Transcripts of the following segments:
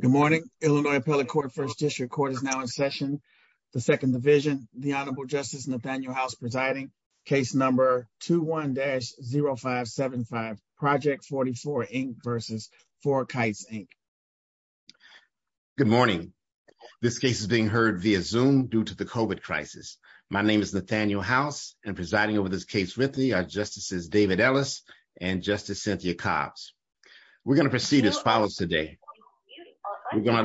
Good morning. Illinois Appellate Court, First District Court is now in session. The Second Division, the Honorable Justice Nathaniel House presiding, case number 21-0575, Project44, Inc. v. FourKites, Inc. Good morning. This case is being heard via Zoom due to the COVID crisis. My name is Nathaniel House and presiding over this case with me are Justices David Ellis and Justice Cynthia Cobbs. We're going to proceed as follows today. We're going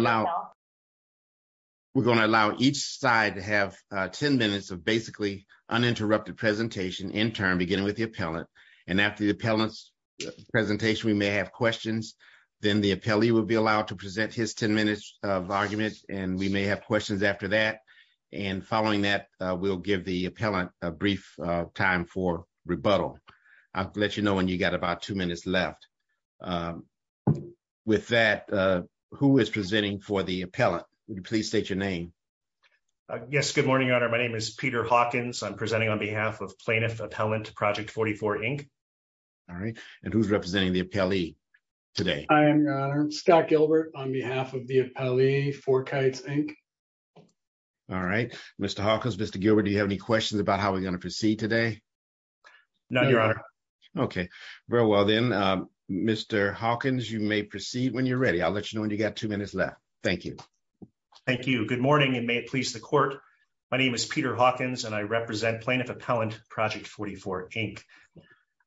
to allow each side to have 10 minutes of basically uninterrupted presentation in turn, beginning with the appellant. And after the appellant's presentation, we may have questions. Then the appellee will be allowed to present his 10 minutes of argument, and we may have questions after that. And following that, we'll give the appellant a brief time for rebuttal. I'll let you know when you got about two minutes left. With that, who is presenting for the appellant? Would you please state your name? Yes. Good morning, Your Honor. My name is Peter Hawkins. I'm presenting on behalf of Plaintiff Appellant, Project44, Inc. All right. And who's representing the appellee today? I am, Your Honor. I'm Scott Gilbert on behalf of the appellee, FourKites, Inc. All right. Mr. Hawkins, Mr. Gilbert, do you have any questions about how we're going to proceed today? No, Your Honor. Okay. Very well then, Mr. Hawkins, you may proceed when you're ready. I'll let you know when you got two minutes left. Thank you. Thank you. Good morning, and may it please the court. My name is Peter Hawkins, and I represent Plaintiff Appellant, Project44, Inc.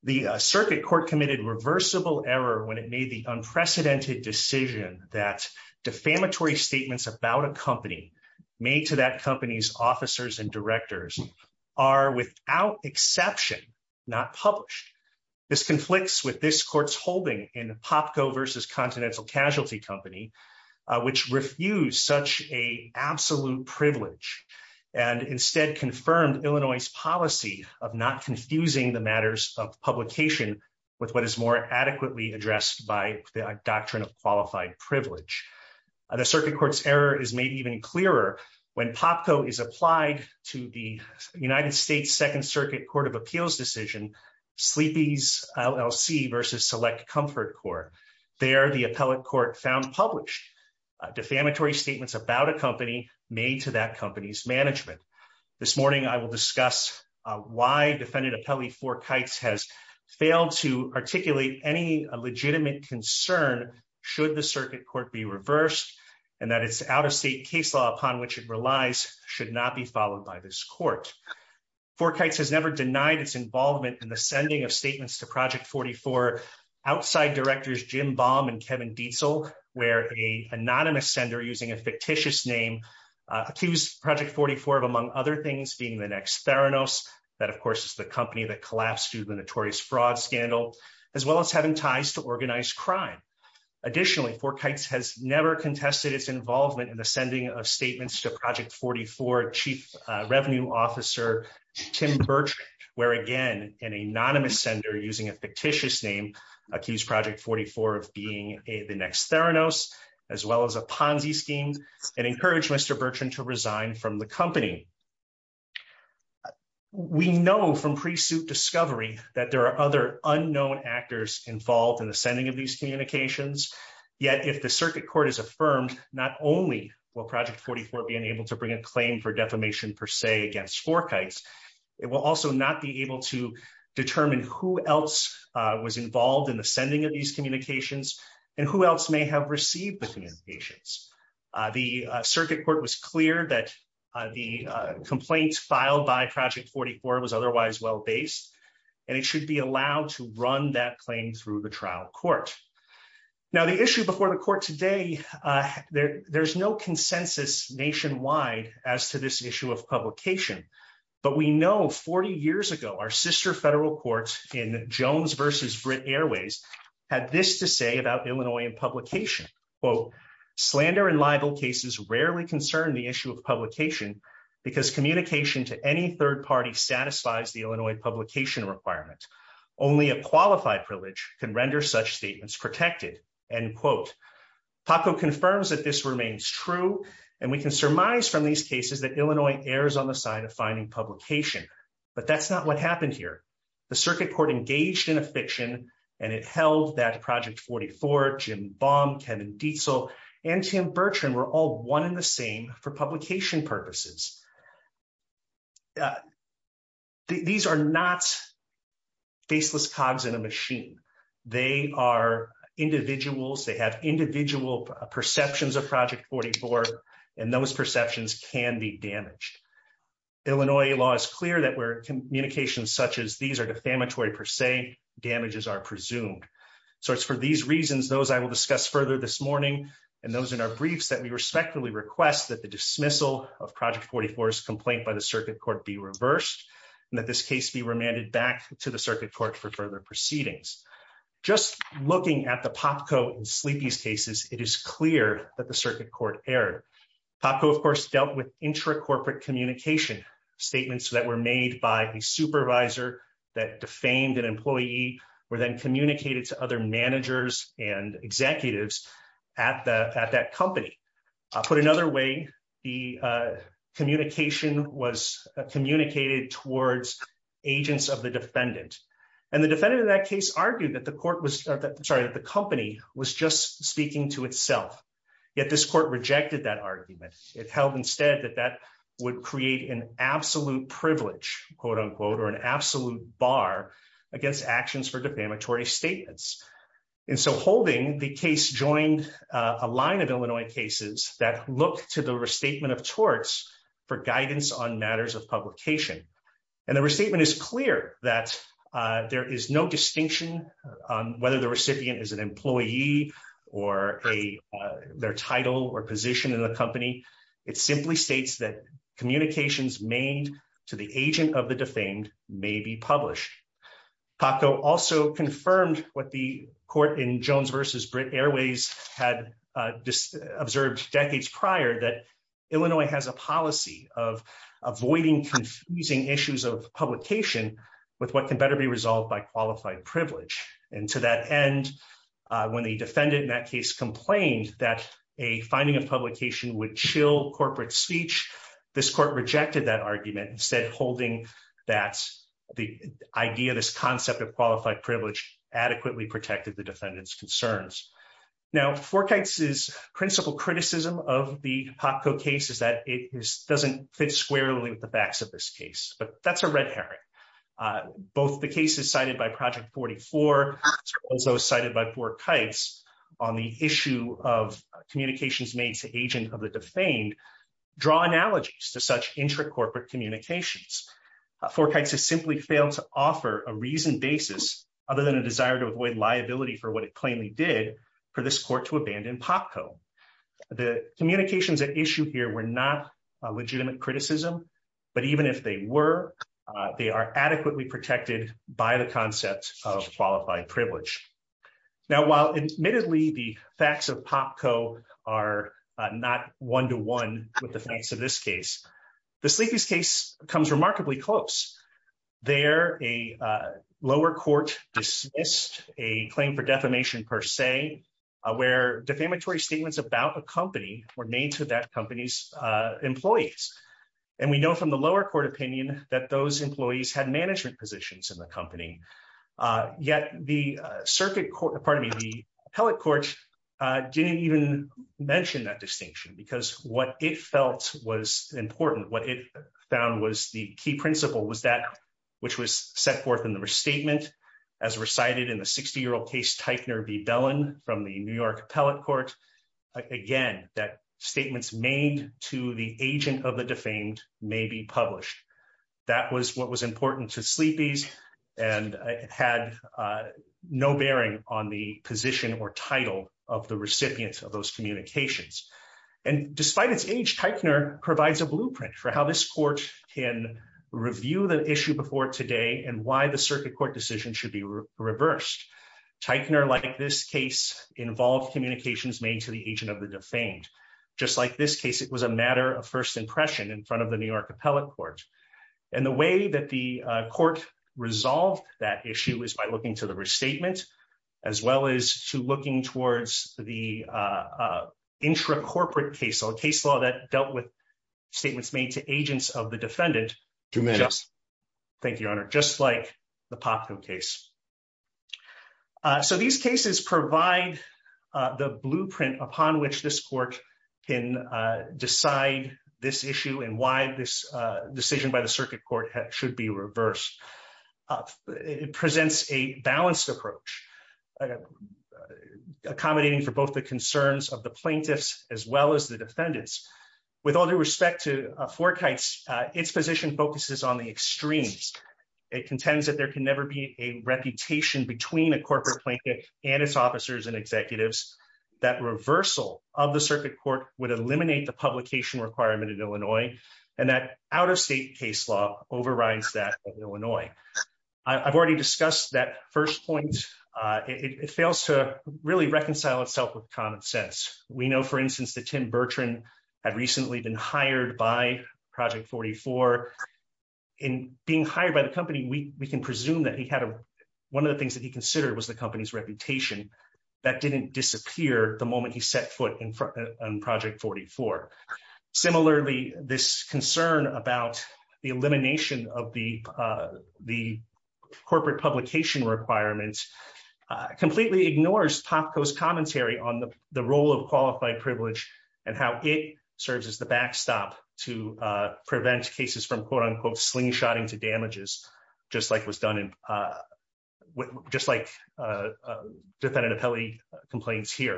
The circuit court committed reversible error when it made the unprecedented decision that defamatory statements about a company made to that company's officers and directors are, without exception, not published. This conflicts with this court's holding in Popco v. Continental Casualty Company, which refused such a absolute privilege and instead confirmed Illinois' policy of not confusing the matters of publication with what is more adequately addressed by the doctrine of qualified privilege. The circuit court's error is made even clearer when Popco is applied to the United States Second Circuit Court of Appeals decision, Sleepy's LLC v. Select Comfort Corp. There, the appellate court found published defamatory statements about a company made to that company's management. This morning, I will discuss why Defendant Appellee ForKites has failed to articulate any legitimate concern should the should not be followed by this court. ForKites has never denied its involvement in the sending of statements to Project44 outside directors Jim Baum and Kevin Dietzel, where an anonymous sender using a fictitious name accused Project44 of, among other things, feeding the next Theranos that, of course, is the company that collapsed due to the notorious fraud scandal, as well as having ties to organized crime. Additionally, ForKites has never contested its involvement in the sending of statements to Project44 Chief Revenue Officer Tim Bertrand, where, again, an anonymous sender using a fictitious name accused Project44 of being the next Theranos, as well as a Ponzi scheme, and encouraged Mr. Bertrand to resign from the company. We know from pre-suit discovery that there are other unknown actors involved in the sending of communications. Yet, if the Circuit Court is affirmed, not only will Project44 be unable to bring a claim for defamation per se against ForKites, it will also not be able to determine who else was involved in the sending of these communications, and who else may have received the communications. The Circuit Court was clear that the complaint filed by Project44 was otherwise well-based, and it should be allowed to run that claim through the trial court. Now, the issue before the court today, there's no consensus nationwide as to this issue of publication, but we know 40 years ago, our sister federal courts in Jones v. Britt Airways had this to say about Illinoisan publication, quote, slander and libel cases rarely concern the issue of publication because communication to any third party satisfies the Illinois publication requirement. Only a qualified privilege can render such statements protected, end quote. Paco confirms that this remains true, and we can surmise from these cases that Illinois errs on the side of finding publication, but that's not what happened here. The Circuit Court engaged in a fiction, and it held that Project44, Jim Baum, Kevin Dietzel, and Tim Bertrand were all one and the same for publication purposes. These are not faceless cogs in a machine. They are individuals. They have individual perceptions of Project44, and those perceptions can be damaged. Illinois law is clear that where communications such as these are defamatory per se, damages are presumed. So it's for these reasons, those I will discuss further this morning, and those in our briefs, that we respectfully request that the dismissal of Project44's complaint by the Circuit Court be reversed, and that this case be remanded back to the Circuit Court for further proceedings. Just looking at the Popco and Sleepy's cases, it is clear that the Circuit Court erred. Popco, of course, dealt with intra-corporate communication statements that were made by a supervisor that defamed an employee, were then communicated to other managers and executives at that company, put another way, the communication was communicated towards agents of the defendant, and the defendant in that case argued that the company was just speaking to itself, yet this court rejected that argument. It held instead that that would create an absolute privilege, quote unquote, or an absolute bar against actions for defamatory statements, and so holding the joined a line of Illinois cases that looked to the restatement of torts for guidance on matters of publication, and the restatement is clear that there is no distinction on whether the recipient is an employee or their title or position in the company. It simply states that communications made to the agent of the defamed may be published. Popco also confirmed what the court in Jones v. Britt Airways had observed decades prior, that Illinois has a policy of avoiding confusing issues of publication with what can better be resolved by qualified privilege, and to that end, when the defendant in that case complained that a finding of publication would chill corporate speech, this court rejected that argument, instead holding that the idea, this concept of qualified privilege adequately protected the defendant's concerns. Now, Forkites' principal criticism of the Popco case is that it doesn't fit squarely with the facts of this case, but that's a red herring. Both the cases cited by Project 44, as well as those cited by Forkites on the issue of communications made to agent of the defamed, draw analogies to such corporate communications. Forkites has simply failed to offer a reasoned basis, other than a desire to avoid liability for what it plainly did, for this court to abandon Popco. The communications at issue here were not a legitimate criticism, but even if they were, they are adequately protected by the concept of qualified privilege. Now, while admittedly the facts of Popco are not one-to-one with the facts of this case, the Sleepy's case comes remarkably close. There, a lower court dismissed a claim for defamation per se, where defamatory statements about a company were made to that company's employees, and we know from the lower court opinion that those employees had management positions in the company, yet the circuit court, pardon me, the appellate court, didn't even mention that distinction, because what it felt was important, what it found was the key principle was that which was set forth in the restatement, as recited in the 60-year-old case Teichner v. Bellin from the New York appellate court, again, that statements made to the agent of the defamed may be published. That was what was the position or title of the recipients of those communications, and despite its age, Teichner provides a blueprint for how this court can review the issue before today and why the circuit court decision should be reversed. Teichner, like this case, involved communications made to the agent of the defamed. Just like this case, it was a matter of first impression in front of the New York appellate court, and the way that the court resolved that issue is by looking to the appellate court, as well as to looking towards the intracorporate case, a case law that dealt with statements made to agents of the defendant. Two minutes. Thank you, Your Honor. Just like the Popko case. So these cases provide the blueprint upon which this court can decide this issue and why this decision by the circuit court should be reversed. It presents a balanced approach, accommodating for both the concerns of the plaintiffs, as well as the defendants. With all due respect to Forkites, its position focuses on the extremes. It contends that there can never be a reputation between a corporate plaintiff and its officers and executives. That reversal of the circuit court would eliminate the publication requirement in Illinois, and that out-of-state case law overrides that of Illinois. I've already discussed that first point. It fails to really reconcile itself with common sense. We know, for instance, that Tim Bertrand had recently been hired by Project 44. In being hired by the company, we can presume that one of the things that he considered was the company's reputation. That didn't disappear the moment he set foot on Project 44. Similarly, this concern about the elimination of the corporate publication requirements completely ignores Popko's commentary on the role of qualified privilege and how it serves as the backstop to prevent cases from quote-unquote slingshotting to damages, just like defendant Apelli complains here.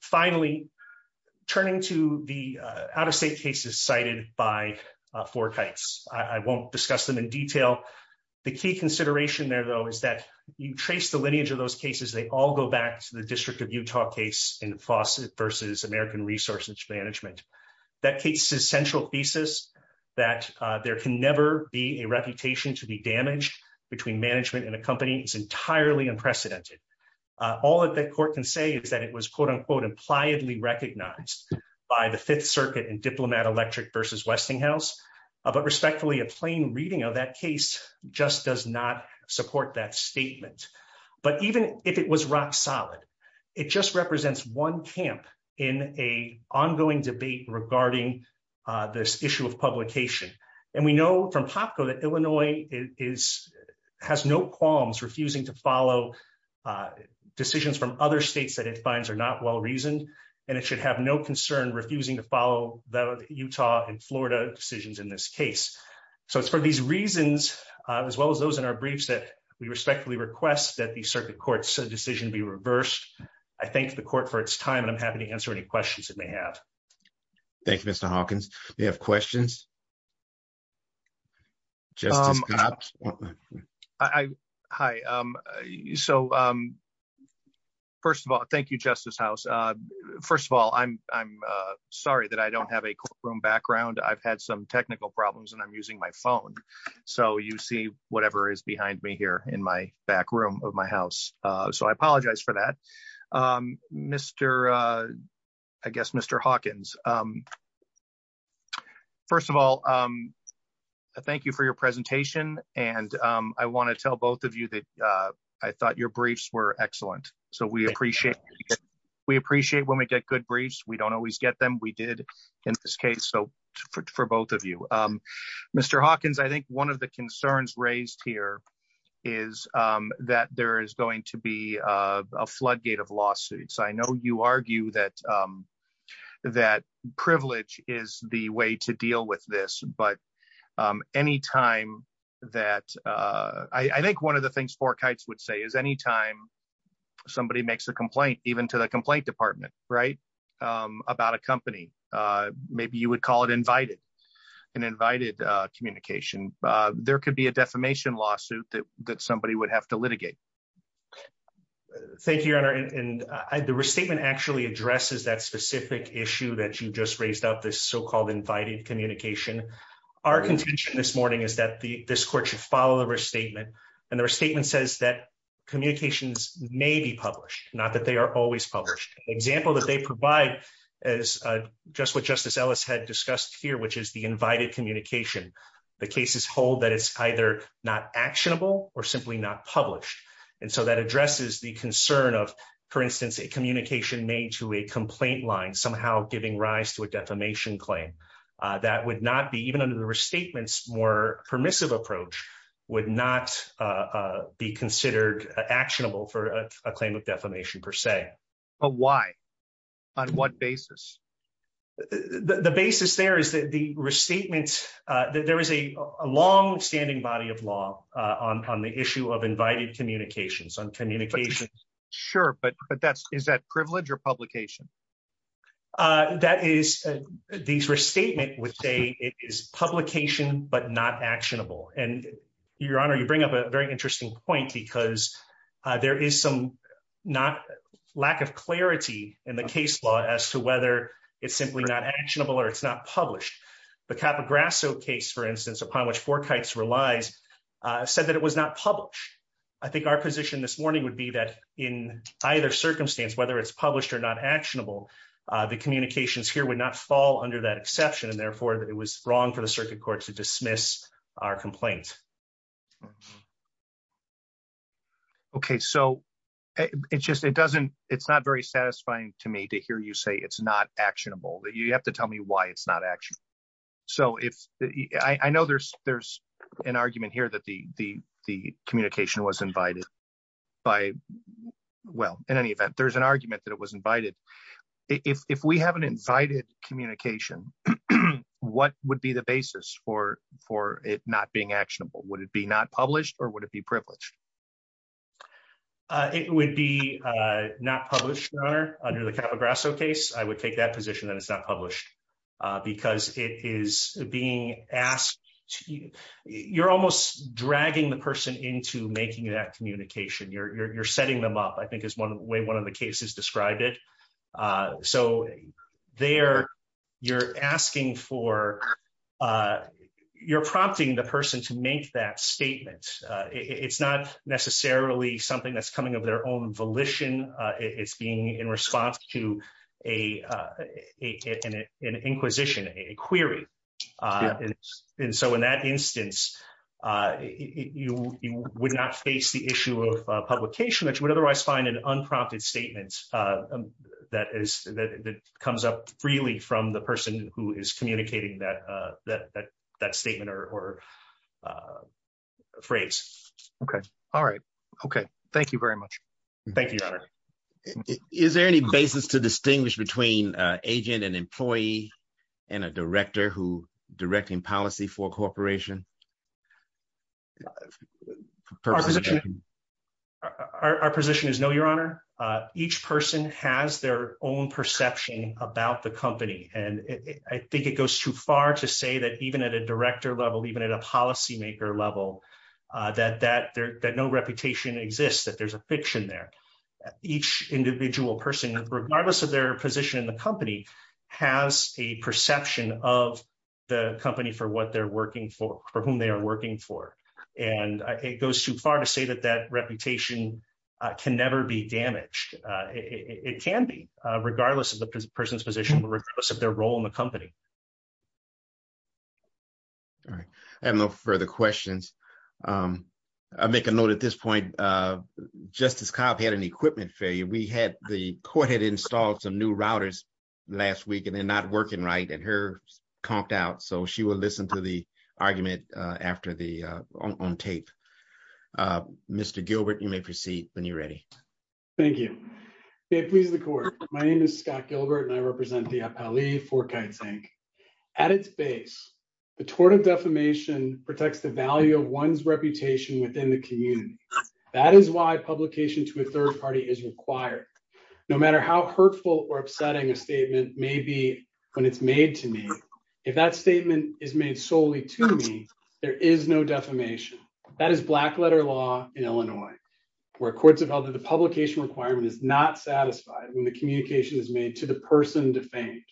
Finally, turning to the out-of-state cases cited by Forkites, I won't discuss them in detail. The key consideration there, though, is that you trace the lineage of those cases, they all go back to the District of Utah case in Fawcett v. American Resource Management. That case's central thesis, that there can never be a reputation to be damaged between management and a company, is entirely unprecedented. All that the court can say is that it was quote-unquote impliedly recognized by the Fifth Circuit in Diplomat Electric v. Westinghouse, but respectfully, a plain reading of that case just does not support that statement. But even if it was rock solid, it just represents one camp in a ongoing debate regarding this issue of publication. And we know from Popko that Illinois has no qualms refusing to follow decisions from other states that it finds are not well-reasoned, and it should have no concern refusing to follow the Utah and Florida decisions in this case. So it's for these reasons, as well as those in our briefs, that we respectfully request that the circuit court's decision be reversed. I thank the court for its time, and I'm happy to answer any questions that they have. Thank you, Mr. Hawkins. We have questions. Hi. So first of all, thank you, Justice House. First of all, I'm sorry that I don't have a courtroom background. I've had some technical problems, and I'm using my phone. So you see whatever is behind me here in my back room of my house. So I apologize for that. Mr. Hawkins, first of all, thank you for your presentation. And I want to tell both of you that I thought your briefs were excellent. So we appreciate when we get good briefs. We don't always get them. We is that there is going to be a floodgate of lawsuits. I know you argue that privilege is the way to deal with this. But any time that I think one of the things Fork Heights would say is any time somebody makes a complaint, even to the complaint department, right, about a company, maybe you would call it invited, and invited communication, there could be a defamation lawsuit that that somebody would have to litigate. Thank you, Your Honor. And the restatement actually addresses that specific issue that you just raised up this so called invited communication. Our contention this morning is that the this court should follow the restatement. And their statement says that communications may be published, not that they are always published example that they provide is just what Justice Ellis had discussed here, which is the invited communication. The cases hold that it's either not actionable or simply not published. And so that addresses the concern of, for instance, a communication made to a complaint line somehow giving rise to a defamation claim that would not be even under the restatements more permissive approach would not be considered actionable for a claim of defamation per se. But why? On what basis? The basis there is that the restatement, there is a long standing body of law on the issue of invited communications on communication. Sure, but but that's is that privilege or publication? That is, these restatement would say it is publication, but not actionable. And Your Honor, you bring up a very interesting point, because there is some not lack of clarity in the case law as to whether it's simply not actionable, or it's not published. The Capo Grasso case, for instance, upon which for kites relies, said that it was not published. I think our position this morning would be that in either circumstance, whether it's published or not the communications here would not fall under that exception, and therefore that it was wrong for the circuit court to dismiss our complaint. Okay, so it just it doesn't, it's not very satisfying to me to hear you say it's not actionable that you have to tell me why it's not actually. So if I know there's, there's an argument here that the the the communication was invited by, well, in any event, there's an if we have an invited communication, what would be the basis for for it not being actionable? Would it be not published? Or would it be privileged? It would be not published under the Capo Grasso case, I would take that position that it's not published, because it is being asked to, you're almost dragging the person into making that communication, you're setting them up, I think is one way one of the cases described it. So there, you're asking for, you're prompting the person to make that statement. It's not necessarily something that's coming of their own volition. It's being in response to a, an inquisition, a query. And so in that instance, you would not face the issue of publication, which would otherwise find an unprompted statement that is that comes up freely from the person who is communicating that, that that statement or phrase. Okay. All right. Okay. Thank you very much. Thank you. Is there any basis to distinguish between agent and employee, and a director who directing policy for corporation? Our position is no, your honor. Each person has their own perception about the company. And I think it goes too far to say that even at a director level, even at a policymaker level, that no reputation exists, that there's a fiction there. Each individual person, regardless of their position in the company, has a perception of the company for what they're working for, for whom they are working for. And it goes too far to say that that reputation can never be damaged. It can be, regardless of the person's position, regardless of their role in the company. All right. I have no further questions. I'll make a note at this point, Justice Cobb had an equipment failure. We had, the court had installed some new routers last week, and they're not working right. And her comped out. So she will listen to the argument after the, on tape. Mr. Gilbert, you may proceed when you're ready. Thank you. May it please the court. My name is Scott Gilbert and I represent the Appali Fourkites Inc. At its base, the tort of defamation protects the value of one's reputation within the community. That is why publication to a third party is required. No matter how hurtful or upsetting a statement may be when it's made to me, if that statement is made solely to me, there is no defamation. That is black letter law in Illinois, where courts have held that the publication requirement is not satisfied when the communication is made to the person defamed.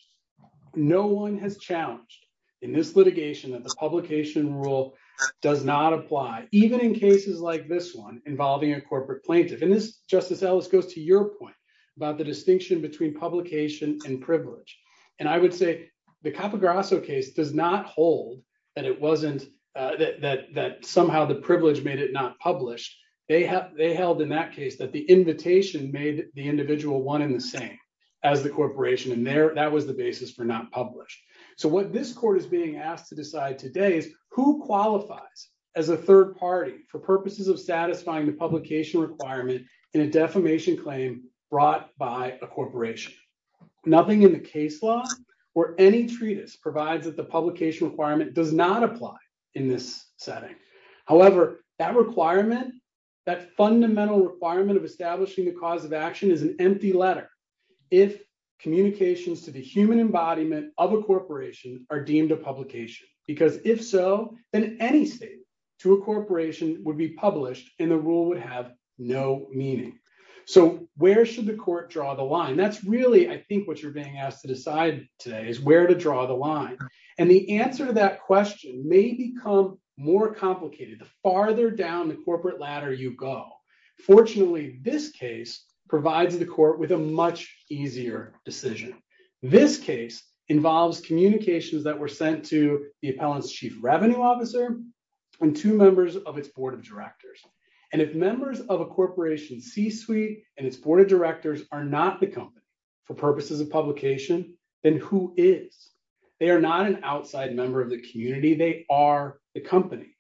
No one has challenged in this litigation that the publication rule does not apply, even in cases like this one involving a corporate plaintiff. And this Justice Ellis goes to your point about the distinction between publication and privilege. And I would say the Capograsso case does not hold that it wasn't that somehow the privilege made it not published. They held in that case that the invitation made the individual one in the same as the corporation. And there, that was the basis for not published. So what this court is being asked to decide today is who qualifies as a third party for purposes of satisfying the publication requirement in a defamation claim brought by a corporation. Nothing in the case law or any treatise provides that the publication requirement does not apply in this setting. However, that requirement, that fundamental requirement of establishing the cause of action is an empty letter. If communications to the human embodiment of a corporation are deemed a publication, because if so, then any state to a corporation would be published and the rule would have no meaning. So where should the court draw the line? That's really, I think what you're being asked to decide today is where to draw the line. And the answer to that question may become more complicated. The farther down the corporate ladder you go. Fortunately, this case provides the court with a much easier decision. This case involves communications that were sent to the appellant's chief revenue officer and two members of its board of directors. And if members of a corporation C-suite and its board of directors are not the company for purposes of publication, then who is? They are not an outside member of the community. They are the company.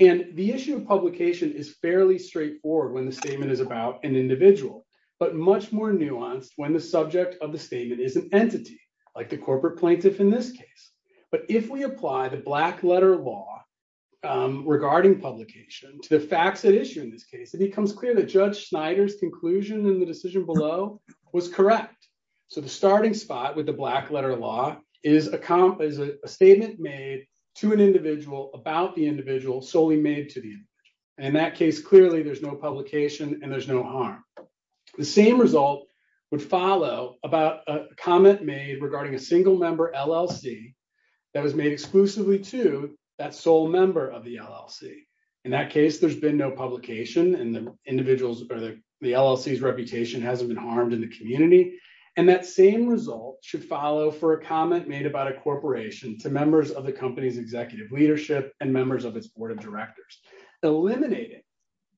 And the issue of publication is fairly straightforward when the statement is about an individual, but much more nuanced when the subject of the statement is an entity like the corporate plaintiff in this case. But if we apply the black letter law regarding publication to the facts at issue in this case, it becomes clear that Judge Snyder's conclusion in the decision below was correct. So the starting spot with the black letter law is a statement made to an individual about the individual solely made to the individual. In that case, clearly there's no publication and there's no harm. The same result would follow about a comment made regarding a single member LLC that was made exclusively to that sole member of the LLC. In that case, there's been no publication and the individuals or the LLC's reputation hasn't been harmed in the community. And that same result should follow for a comment made about a corporation to members of the company's executive leadership and members of its board of directors. Eliminating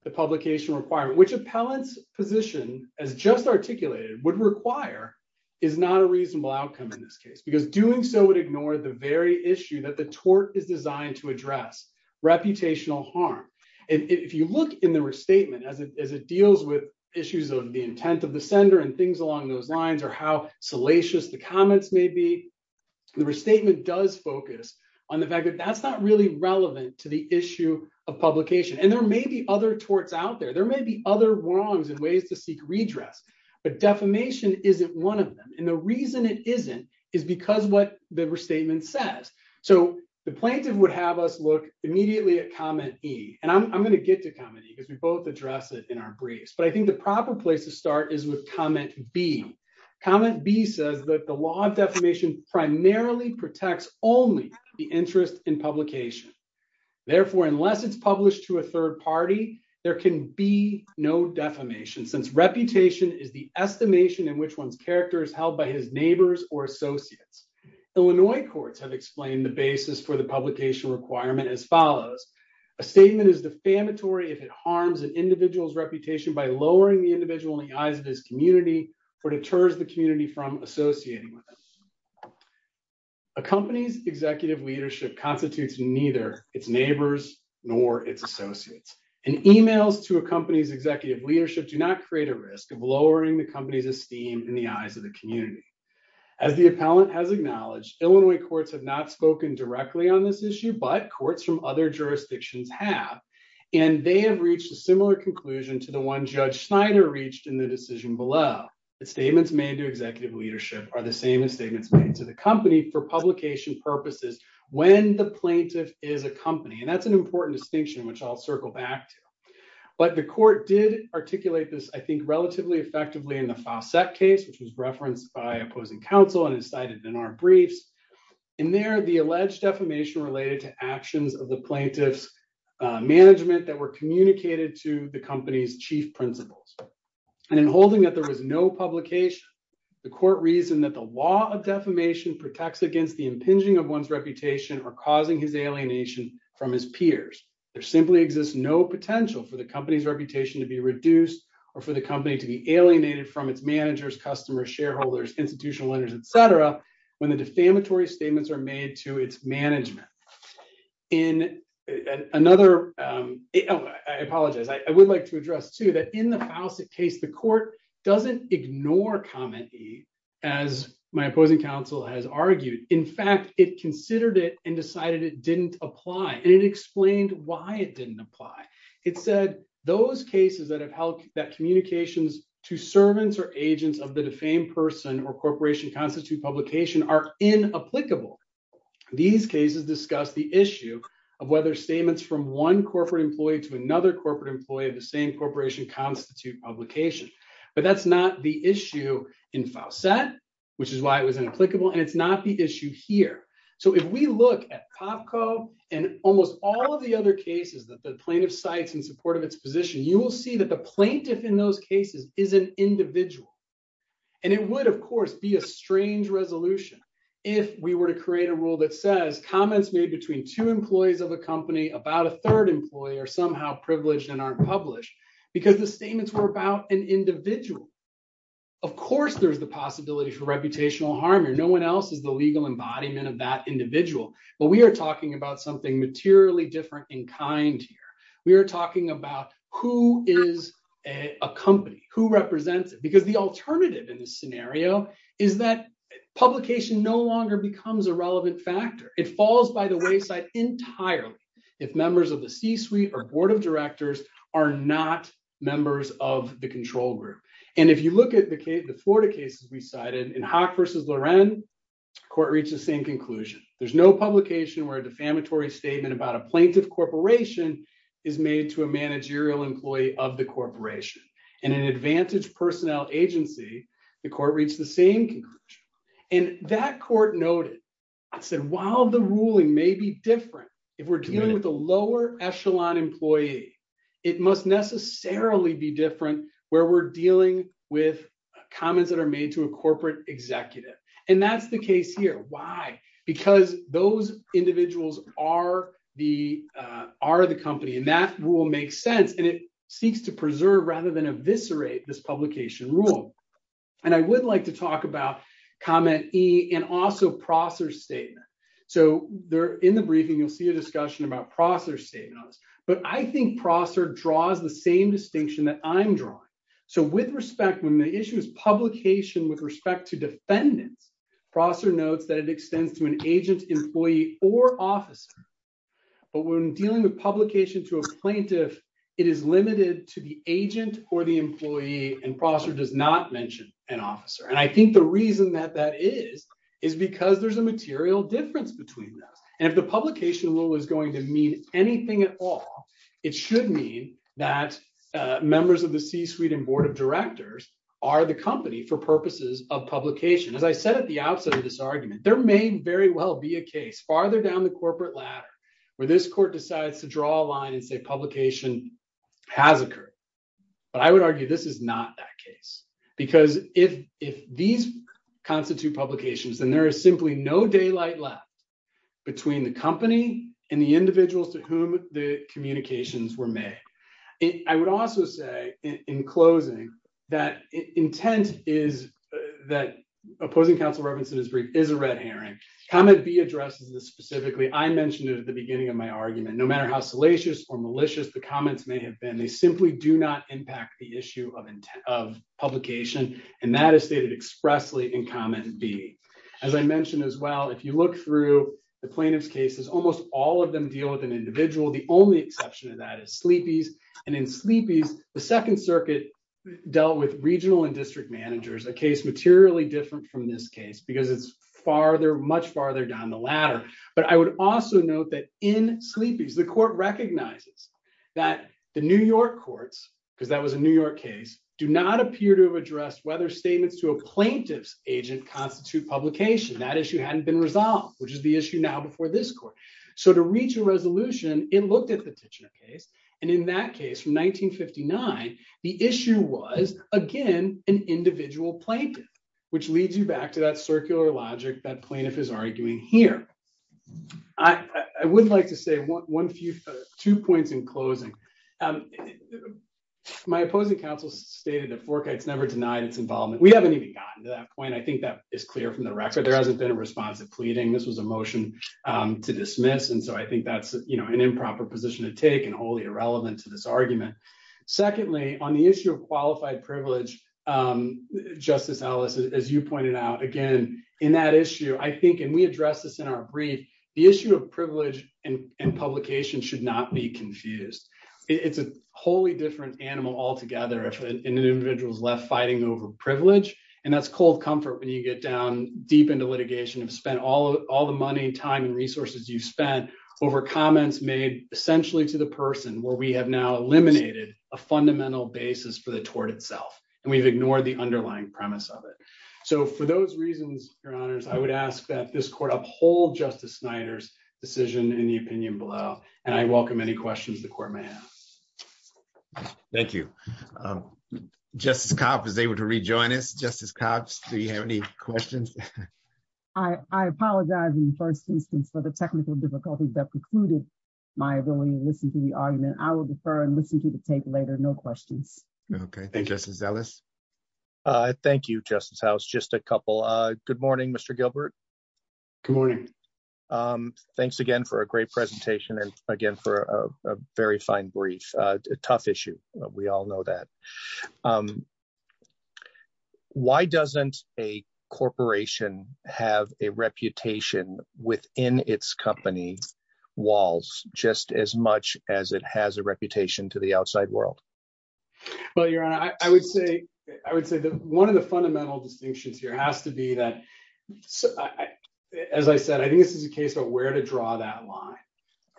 the publication requirement, which appellant's position as just articulated would require is not a reasonable outcome in this case, because doing so would ignore the very issue that the tort is designed to address, reputational harm. And if you look in the restatement as it deals with issues of the intent of the sender and things along those lines or how salacious the comments may be, the restatement does focus on the fact that that's not really relevant to the issue of publication. And there may be other torts out there. There may be other wrongs and ways to seek redress, but defamation isn't one of them. And the reason it isn't is because what the restatement says. So the plaintiff would have us look immediately at comment E and I'm going to get to comment E because we both address it in our briefs. But I think the proper place to start is with comment B. Comment B says that the law of only the interest in publication. Therefore, unless it's published to a third party, there can be no defamation since reputation is the estimation in which one's character is held by his neighbors or associates. Illinois courts have explained the basis for the publication requirement as follows. A statement is defamatory if it harms an individual's reputation by lowering the individual in the eyes of his community or deters the community from associating with them. A company's executive leadership constitutes neither its neighbors nor its associates. And emails to a company's executive leadership do not create a risk of lowering the company's esteem in the eyes of the community. As the appellant has acknowledged, Illinois courts have not spoken directly on this issue, but courts from other jurisdictions have. And they have reached a similar conclusion to the one Judge Schneider reached in the decision below. The company for publication purposes when the plaintiff is a company. And that's an important distinction which I'll circle back to. But the court did articulate this, I think, relatively effectively in the Fawcett case, which was referenced by opposing counsel and is cited in our briefs. In there, the alleged defamation related to actions of the plaintiff's management that were communicated to the company's chief principals. And in holding that there was no publication, the court reasoned that the law of defamation protects against the impinging of one's reputation or causing his alienation from his peers. There simply exists no potential for the company's reputation to be reduced or for the company to be alienated from its managers, customers, shareholders, institutional owners, et cetera, when the defamatory statements are made to its management. In another, I apologize, I would like to address too that in the Fawcett case, the court doesn't ignore comment E as my opposing counsel has argued. In fact, it considered it and decided it didn't apply. And it explained why it didn't apply. It said those cases that have held that communications to servants or agents of the defamed person or corporation constitute publication are inapplicable. These cases discuss the issue of whether statements from one corporate employee to another corporate employee of the same corporation constitute publication. But that's not the issue in Fawcett, which is why it was inapplicable. And it's not the issue here. So if we look at Popco and almost all of the other cases that the plaintiff cites in support of its position, you will see that the plaintiff in those cases is an individual. And it would, of course, be a strange resolution if we were to create a rule that says comments made between two employees of a company about a third employee are somehow privileged and aren't published because the statements were about an individual. Of course, there's the possibility for reputational harm here. No one else is the legal embodiment of that individual. But we are talking about something materially different in kind here. We are talking about who is a company, who represents it, because the alternative in this scenario is that publication no longer becomes a relevant factor. It falls by the wayside entirely if members of the C-suite or board of directors are not members of the control group. And if you look at the Florida cases we cited, in Hock versus Loren, the court reached the same conclusion. There's no publication where a defamatory statement about a plaintiff corporation is made to a managerial employee of the corporation. In an advantaged personnel agency, the court reached the same conclusion. And that court noted, it said, while the ruling may be different, if we're dealing with a lower echelon employee, it must necessarily be different where we're dealing with comments that are made to a corporate executive. And that's the case here. Why? Because those individuals are the company. And that rule makes sense. And it seeks to preserve rather than eviscerate this publication rule. And I would like talk about comment E and also Prosser's statement. So in the briefing, you'll see a discussion about Prosser's statement on this. But I think Prosser draws the same distinction that I'm drawing. So with respect, when the issue is publication with respect to defendants, Prosser notes that it extends to an agent, employee, or officer. But when dealing with publication to a plaintiff, it is limited to the agent or the employee. And Prosser does not the reason that that is is because there's a material difference between those. And if the publication rule is going to mean anything at all, it should mean that members of the C-suite and board of directors are the company for purposes of publication. As I said at the outset of this argument, there may very well be a case farther down the corporate ladder where this court decides to draw a line and say publication has occurred. But I would argue this is not that case. Because if these constitute publications, then there is simply no daylight left between the company and the individuals to whom the communications were made. I would also say in closing that intent is that opposing counsel Robinson is a red herring. Comment B addresses this specifically. I mentioned it at the beginning of my argument. No matter how salacious or malicious the comments may have been, they simply do not impact the issue of publication. And that is stated expressly in comment B. As I mentioned as well, if you look through the plaintiff's cases, almost all of them deal with an individual. The only exception to that is Sleepy's. And in Sleepy's, the Second Circuit dealt with regional and district managers, a case materially different from this case because it's farther, much farther down the ladder. But I would also note that in Sleepy's, the court recognizes that the New York courts, because that was a New York case, do not appear to have addressed whether statements to a plaintiff's agent constitute publication. That issue hadn't been resolved, which is the issue now before this court. So to reach a resolution, it looked at the Titchener case. And in that case from 1959, the issue was, again, an individual plaintiff, which leads you back to that circular logic that plaintiff is arguing here. I would like to say two points in closing. My opposing counsel stated that Forkite's never denied its involvement. We haven't even gotten to that point. I think that is clear from the record. There hasn't been a response to pleading. This was a motion to dismiss. And so I think that's an improper position to take and wholly irrelevant to this argument. Secondly, on the issue of qualified privilege, Justice Ellis, as you pointed out, again, in that issue, I think, and we addressed this in our brief, the issue of privilege and publication should not be confused. It's a wholly different animal altogether if an individual is left fighting over privilege. And that's cold comfort when you get down deep into litigation and spend all the money and time and resources you've spent over comments made essentially to the person where we have now eliminated a fundamental basis for the tort itself, and we've ignored the underlying premise of it. So for those reasons, Your Honors, I would ask that this court uphold Justice Snyder's decision in the opinion below. And I welcome any questions the court may have. Thank you. Justice Cobb is able to rejoin us. Justice Cobb, do you have any questions? I apologize in the first instance for the technical difficulties that precluded my ability to listen to the argument. I will defer and listen to the tape later. No questions. Okay. Thank you, Justice Ellis. Thank you, Justice House. Just a couple. Good morning, Mr. Gilbert. Good morning. Thanks again for a great presentation. And again, for a very fine brief, tough issue. We all know that. Why doesn't a corporation have a reputation within its company walls just as much as it has a reputation to the outside world? Well, Your Honor, I would say that one of the fundamental distinctions here has to be that, as I said, I think this is a case of where to draw that line,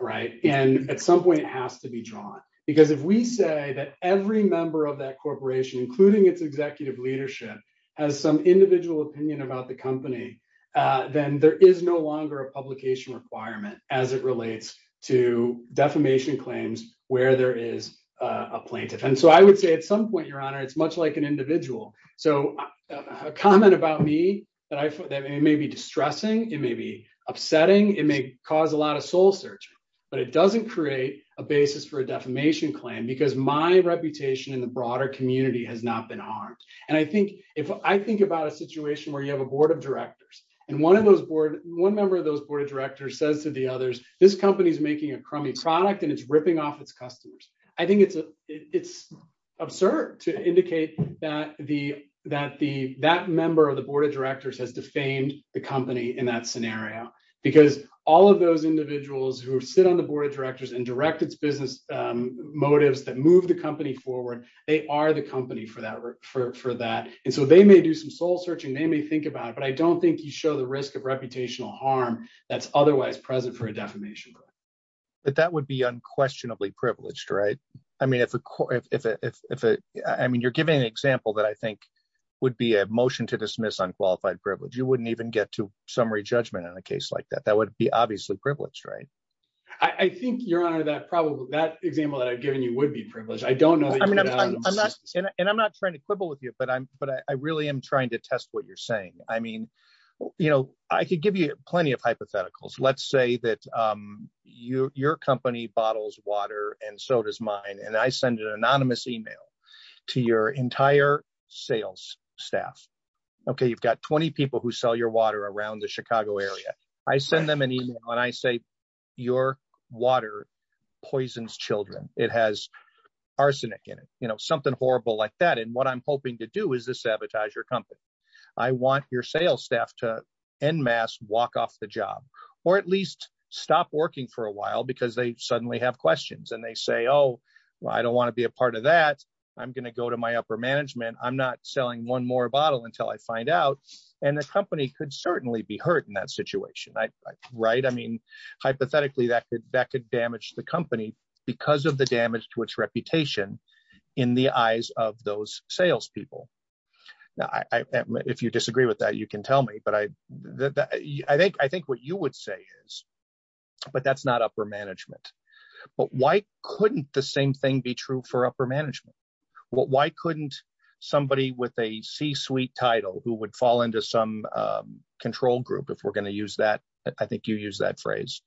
right? And at some point, it has to be drawn. Because if we say that every member of that corporation, including its executive leadership, has some individual opinion about the company, then there is no longer a publication requirement as it relates to defamation claims where there is a plaintiff. And so I would say at some point, Your Honor, it's much like an individual. So a comment about me that may be distressing, it may be upsetting, it may cause a lot of soul search, but it doesn't create a basis for a defamation claim because my reputation in the broader community has not been harmed. And I think if I think about a situation where you have a board of directors, and one member of those board of directors says to the others, this company is making a crummy product, and it's ripping off its customers. I think it's absurd to indicate that that member of the board of directors has defamed the company in that scenario. Because all of those individuals who sit on the board of directors and direct its business motives that move the company forward, they are the company for that. And so they may do some soul search, but I don't think you show the risk of reputational harm that's otherwise present for a defamation claim. But that would be unquestionably privileged, right? I mean, you're giving an example that I think would be a motion to dismiss unqualified privilege. You wouldn't even get to summary judgment in a case like that. That would be obviously privileged, right? I think, Your Honor, that example that I've given you would be privileged. I don't know. And I'm not trying to quibble with you, but I really am trying to test what you're saying. I mean, I could give you plenty of hypotheticals. Let's say that your company bottles water and so does mine, and I send an anonymous email to your entire sales staff. Okay, you've got 20 people who sell your water around the Chicago area. I send them an email and I say, your water poisons children. It has arsenic in it, something horrible like that. And what I'm hoping to do is sabotage your company. I want your sales staff to en masse walk off the job, or at least stop working for a while because they suddenly have questions and they say, oh, I don't want to be a part of that. I'm going to go to my upper management. I'm not selling one more bottle until I find out. And the company could certainly be hurt in that situation, right? I mean, hypothetically, that could damage the company because of the damage to its reputation in the eyes of those salespeople. Now, if you disagree with that, you can tell me, but I think what you would say is, but that's not upper management. But why couldn't the same thing be true for upper management? Why couldn't somebody with a C-suite title who would fall into some control group, if we're going to use that, I think you use that phrase.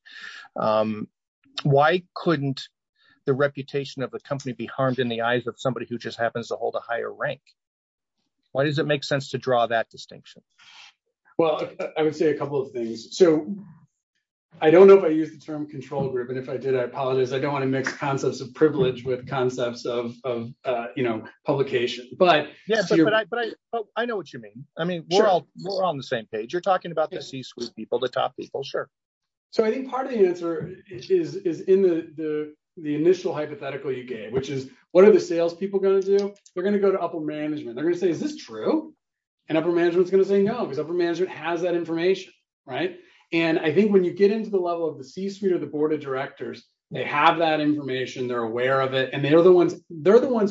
Why couldn't the reputation of the company be harmed in the eyes of somebody who just happens to hold a higher rank? Why does it make sense to draw that distinction? Well, I would say a couple of things. So I don't know if I used the term control group, and if I did, I apologize. I don't want to mix concepts of privilege with concepts of publication. But I know what you mean. I mean, we're all on the same page. You're talking about C-suite people, the top people, sure. So I think part of the answer is in the initial hypothetical you gave, which is, what are the salespeople going to do? They're going to go to upper management. They're going to say, is this true? And upper management is going to say no, because upper management has that information. And I think when you get into the level of the C-suite or the board of directors, they have that information, they're aware of it, and they're the ones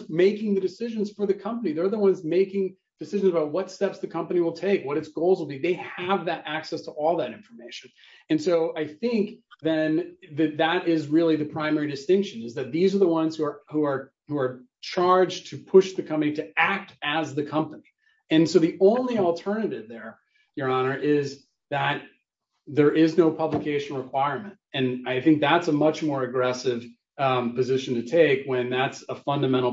making the decisions for the company. They're the ones making decisions about what steps the all that information. And so I think then that that is really the primary distinction, is that these are the ones who are charged to push the company to act as the company. And so the only alternative there, Your Honor, is that there is no publication requirement. And I think that's a much more aggressive position to take when that's a fundamental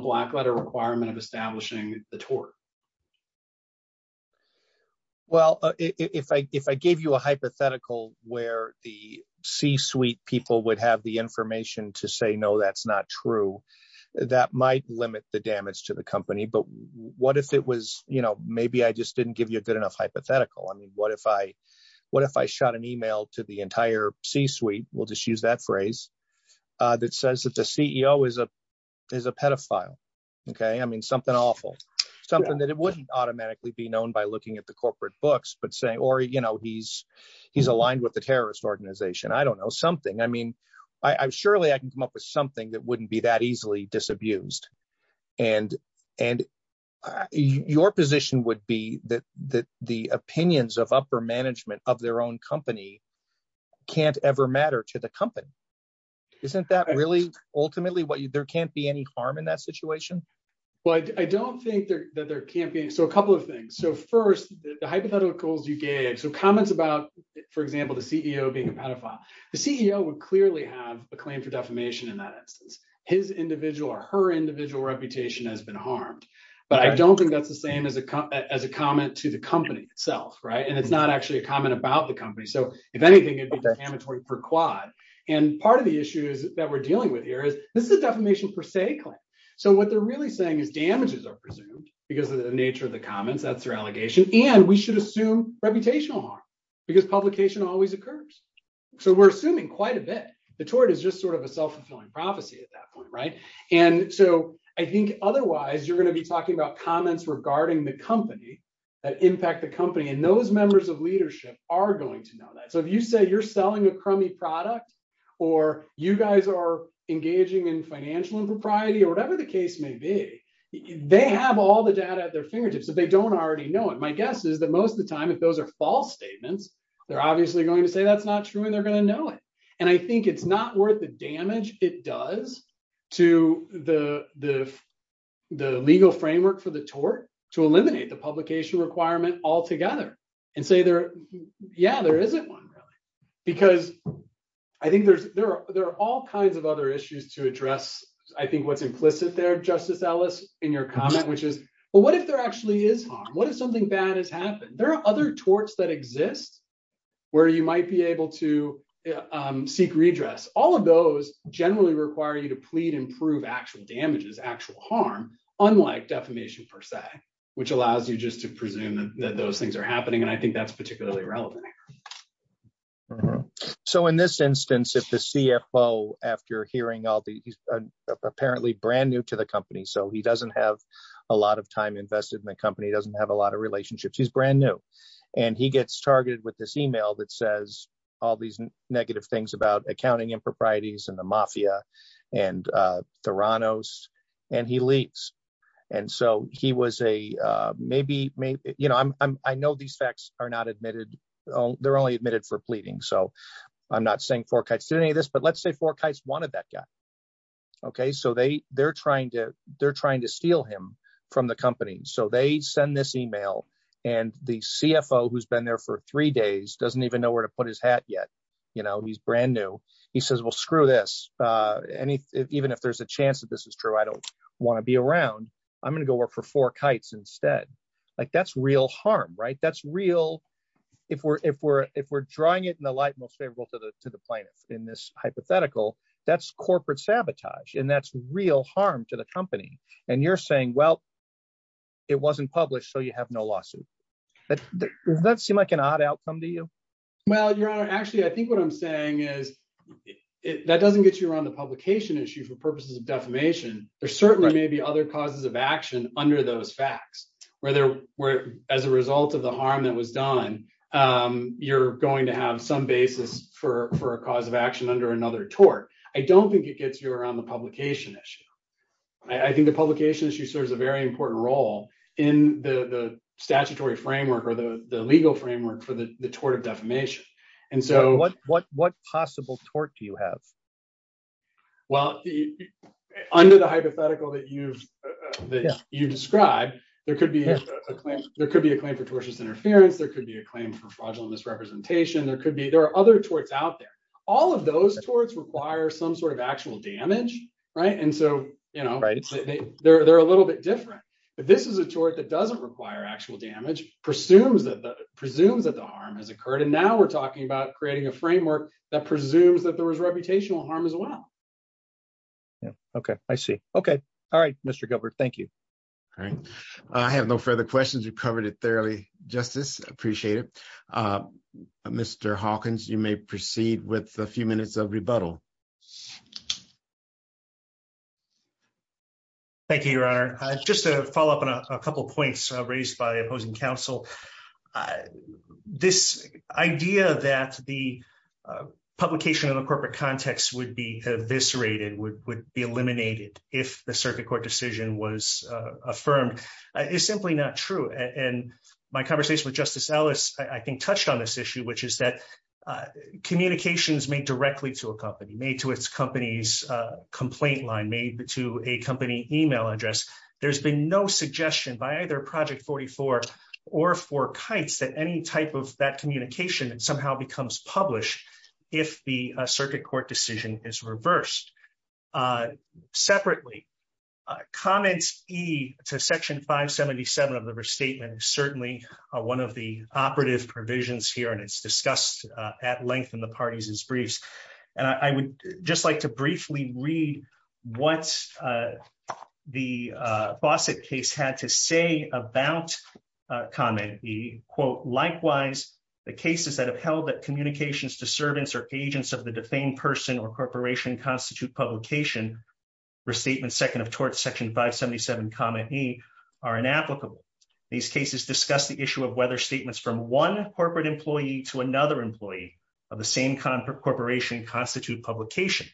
requirement of establishing the tort. Well, if I gave you a hypothetical where the C-suite people would have the information to say, no, that's not true, that might limit the damage to the company. But what if it was, you know, maybe I just didn't give you a good enough hypothetical. I mean, what if I shot an email to the entire C-suite, we'll just use that as a pedophile. OK, I mean, something awful, something that it wouldn't automatically be known by looking at the corporate books, but saying or, you know, he's he's aligned with the terrorist organization. I don't know, something. I mean, surely I can come up with something that wouldn't be that easily disabused. And and your position would be that that the opinions of upper management of their own company can't ever matter to the company. Isn't that really ultimately what there can't be any harm in that situation? Well, I don't think that there can't be. So a couple of things. So first, the hypotheticals you gave some comments about, for example, the CEO being a pedophile. The CEO would clearly have a claim for defamation in that instance. His individual or her individual reputation has been harmed. But I don't think that's the same as a as a comment to the company itself. Right. And it's not actually a comment about the company. So if anything, it's a quad. And part of the issue is that we're dealing with here is this is a defamation per se claim. So what they're really saying is damages are presumed because of the nature of the comments. That's their allegation. And we should assume reputational harm because publication always occurs. So we're assuming quite a bit. The tort is just sort of a self-fulfilling prophecy at that point. Right. And so I think otherwise you're going to be talking about comments regarding the company that impact the company. And those members of leadership are going to know that. So if you say you're selling a crummy product or you guys are engaging in financial impropriety or whatever the case may be, they have all the data at their fingertips that they don't already know. And my guess is that most of the time, if those are false statements, they're obviously going to say that's not true and they're going to know it. And I think it's not worth the damage it does to the the the legal framework for the tort to eliminate the publication requirement altogether and say, yeah, there isn't one. Because I think there are all kinds of other issues to address. I think what's implicit there, Justice Ellis, in your comment, which is, well, what if there actually is harm? What if something bad has happened? There are other torts that exist where you might be able to seek redress. All of those generally require you to plead and prove actual damages, actual harm, unlike defamation, per se, which allows you just to I think that's particularly relevant. So, in this instance, if the CFO, after hearing all the apparently brand new to the company, so he doesn't have a lot of time invested in the company, doesn't have a lot of relationships, he's brand new. And he gets targeted with this email that says all these negative things about accounting improprieties and the mafia and Theranos, and he leaves. And so he was a, maybe, you know, I'm, I know these facts are not admitted. They're only admitted for pleading. So I'm not saying Fork Heights did any of this, but let's say Fork Heights wanted that guy. Okay, so they, they're trying to, they're trying to steal him from the company. So they send this email. And the CFO who's been there for three days doesn't even know where to put his hat yet. You know, he's brand new. He says, well, screw this. Even if there's a chance that this is true, I don't want to be around. I'm going to go work for Fork Heights instead. Like that's real harm, right? That's real. If we're drawing it in the light most favorable to the plaintiff in this hypothetical, that's corporate sabotage. And that's real harm to the company. And you're saying, well, it wasn't published, so you have no lawsuit. Does that seem like an odd outcome to you? Well, Your Honor, actually, I think what I'm saying is that doesn't get you around the publication issue for purposes of defamation. There certainly may be other causes of action under those facts where there were as a result of the harm that was done. You're going to have some basis for a cause of action under another tort. I don't think it gets you around the publication issue. I think the publication issue serves a very important role in the statutory framework or the legal framework for the tort of defamation. What possible tort do you have? Well, under the hypothetical that you've described, there could be a claim for tortious interference. There could be a claim for fraudulent misrepresentation. There are other torts out there. All of those torts require some sort of actual damage. And so they're a little bit different. But this is a tort that doesn't require actual damage, presumes that the harm has occurred. And now we're talking about creating a framework that presumes that there was reputational harm as well. Yeah. Okay. I see. Okay. All right, Mr. Gilbert. Thank you. All right. I have no further questions. You've covered it thoroughly, Justice. Appreciate it. Mr. Hawkins, you may proceed with a few minutes of rebuttal. Thank you, Your Honor. Just to follow up on a couple of points raised by opposing counsel, this idea that the publication in the corporate context would be eviscerated, would be eliminated if the circuit court decision was affirmed is simply not true. And my conversation with Justice made to its company's complaint line, made to a company email address, there's been no suggestion by either Project 44 or Four Kites that any type of that communication somehow becomes published if the circuit court decision is reversed. Separately, comments e to Section 577 of the restatement is certainly one of the operative provisions here, and it's discussed at length in the parties' briefs. And I would just like to briefly read what the Fawcett case had to say about comment e, quote, likewise, the cases that have held that communications to servants or agents of the defamed person or corporation constitute publication restatement second of torts Section 577, e are inapplicable. These cases discuss the issue of whether statements from one corporate employee to another employee of the same corporation constitute publication.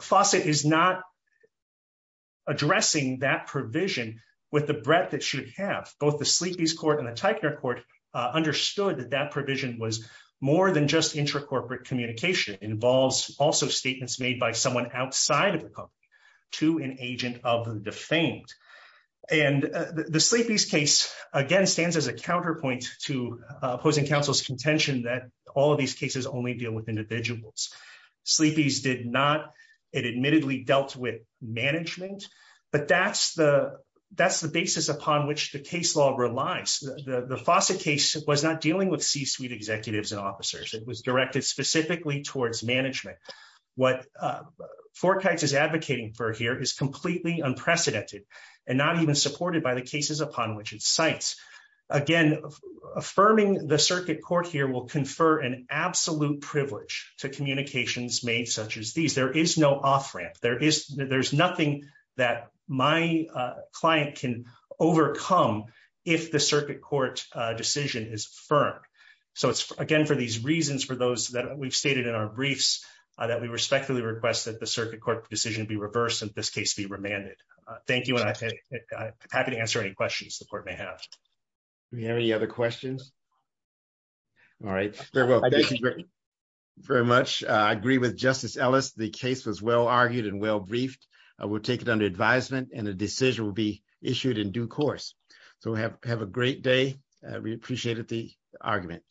Fawcett is not addressing that provision with the breadth it should have. Both the Sleepy's Court and the Teichner Court understood that that provision was more than just intracorporate communication. It involves also statements made by someone outside of the company to an agent of defamed. And the Sleepy's case, again, stands as a counterpoint to opposing counsel's contention that all of these cases only deal with individuals. Sleepy's did not. It admittedly dealt with management, but that's the basis upon which the case law relies. The Fawcett case was not dealing with C-suite executives and officers. It was directed specifically towards management. What Fort Kites is advocating for here is completely unprecedented and not even supported by the cases upon which it cites. Again, affirming the circuit court here will confer an absolute privilege to communications made such as these. There is no off-ramp. There's nothing that my client can overcome if the circuit court decision is affirmed. So it's, again, for these briefs that we respectfully request that the circuit court decision be reversed and this case be remanded. Thank you, and I'm happy to answer any questions the court may have. Do we have any other questions? All right. Thank you very much. I agree with Justice Ellis. The case was well argued and well briefed. We'll take it under advisement and a decision will be issued in due course. So have a great day. We appreciated the argument.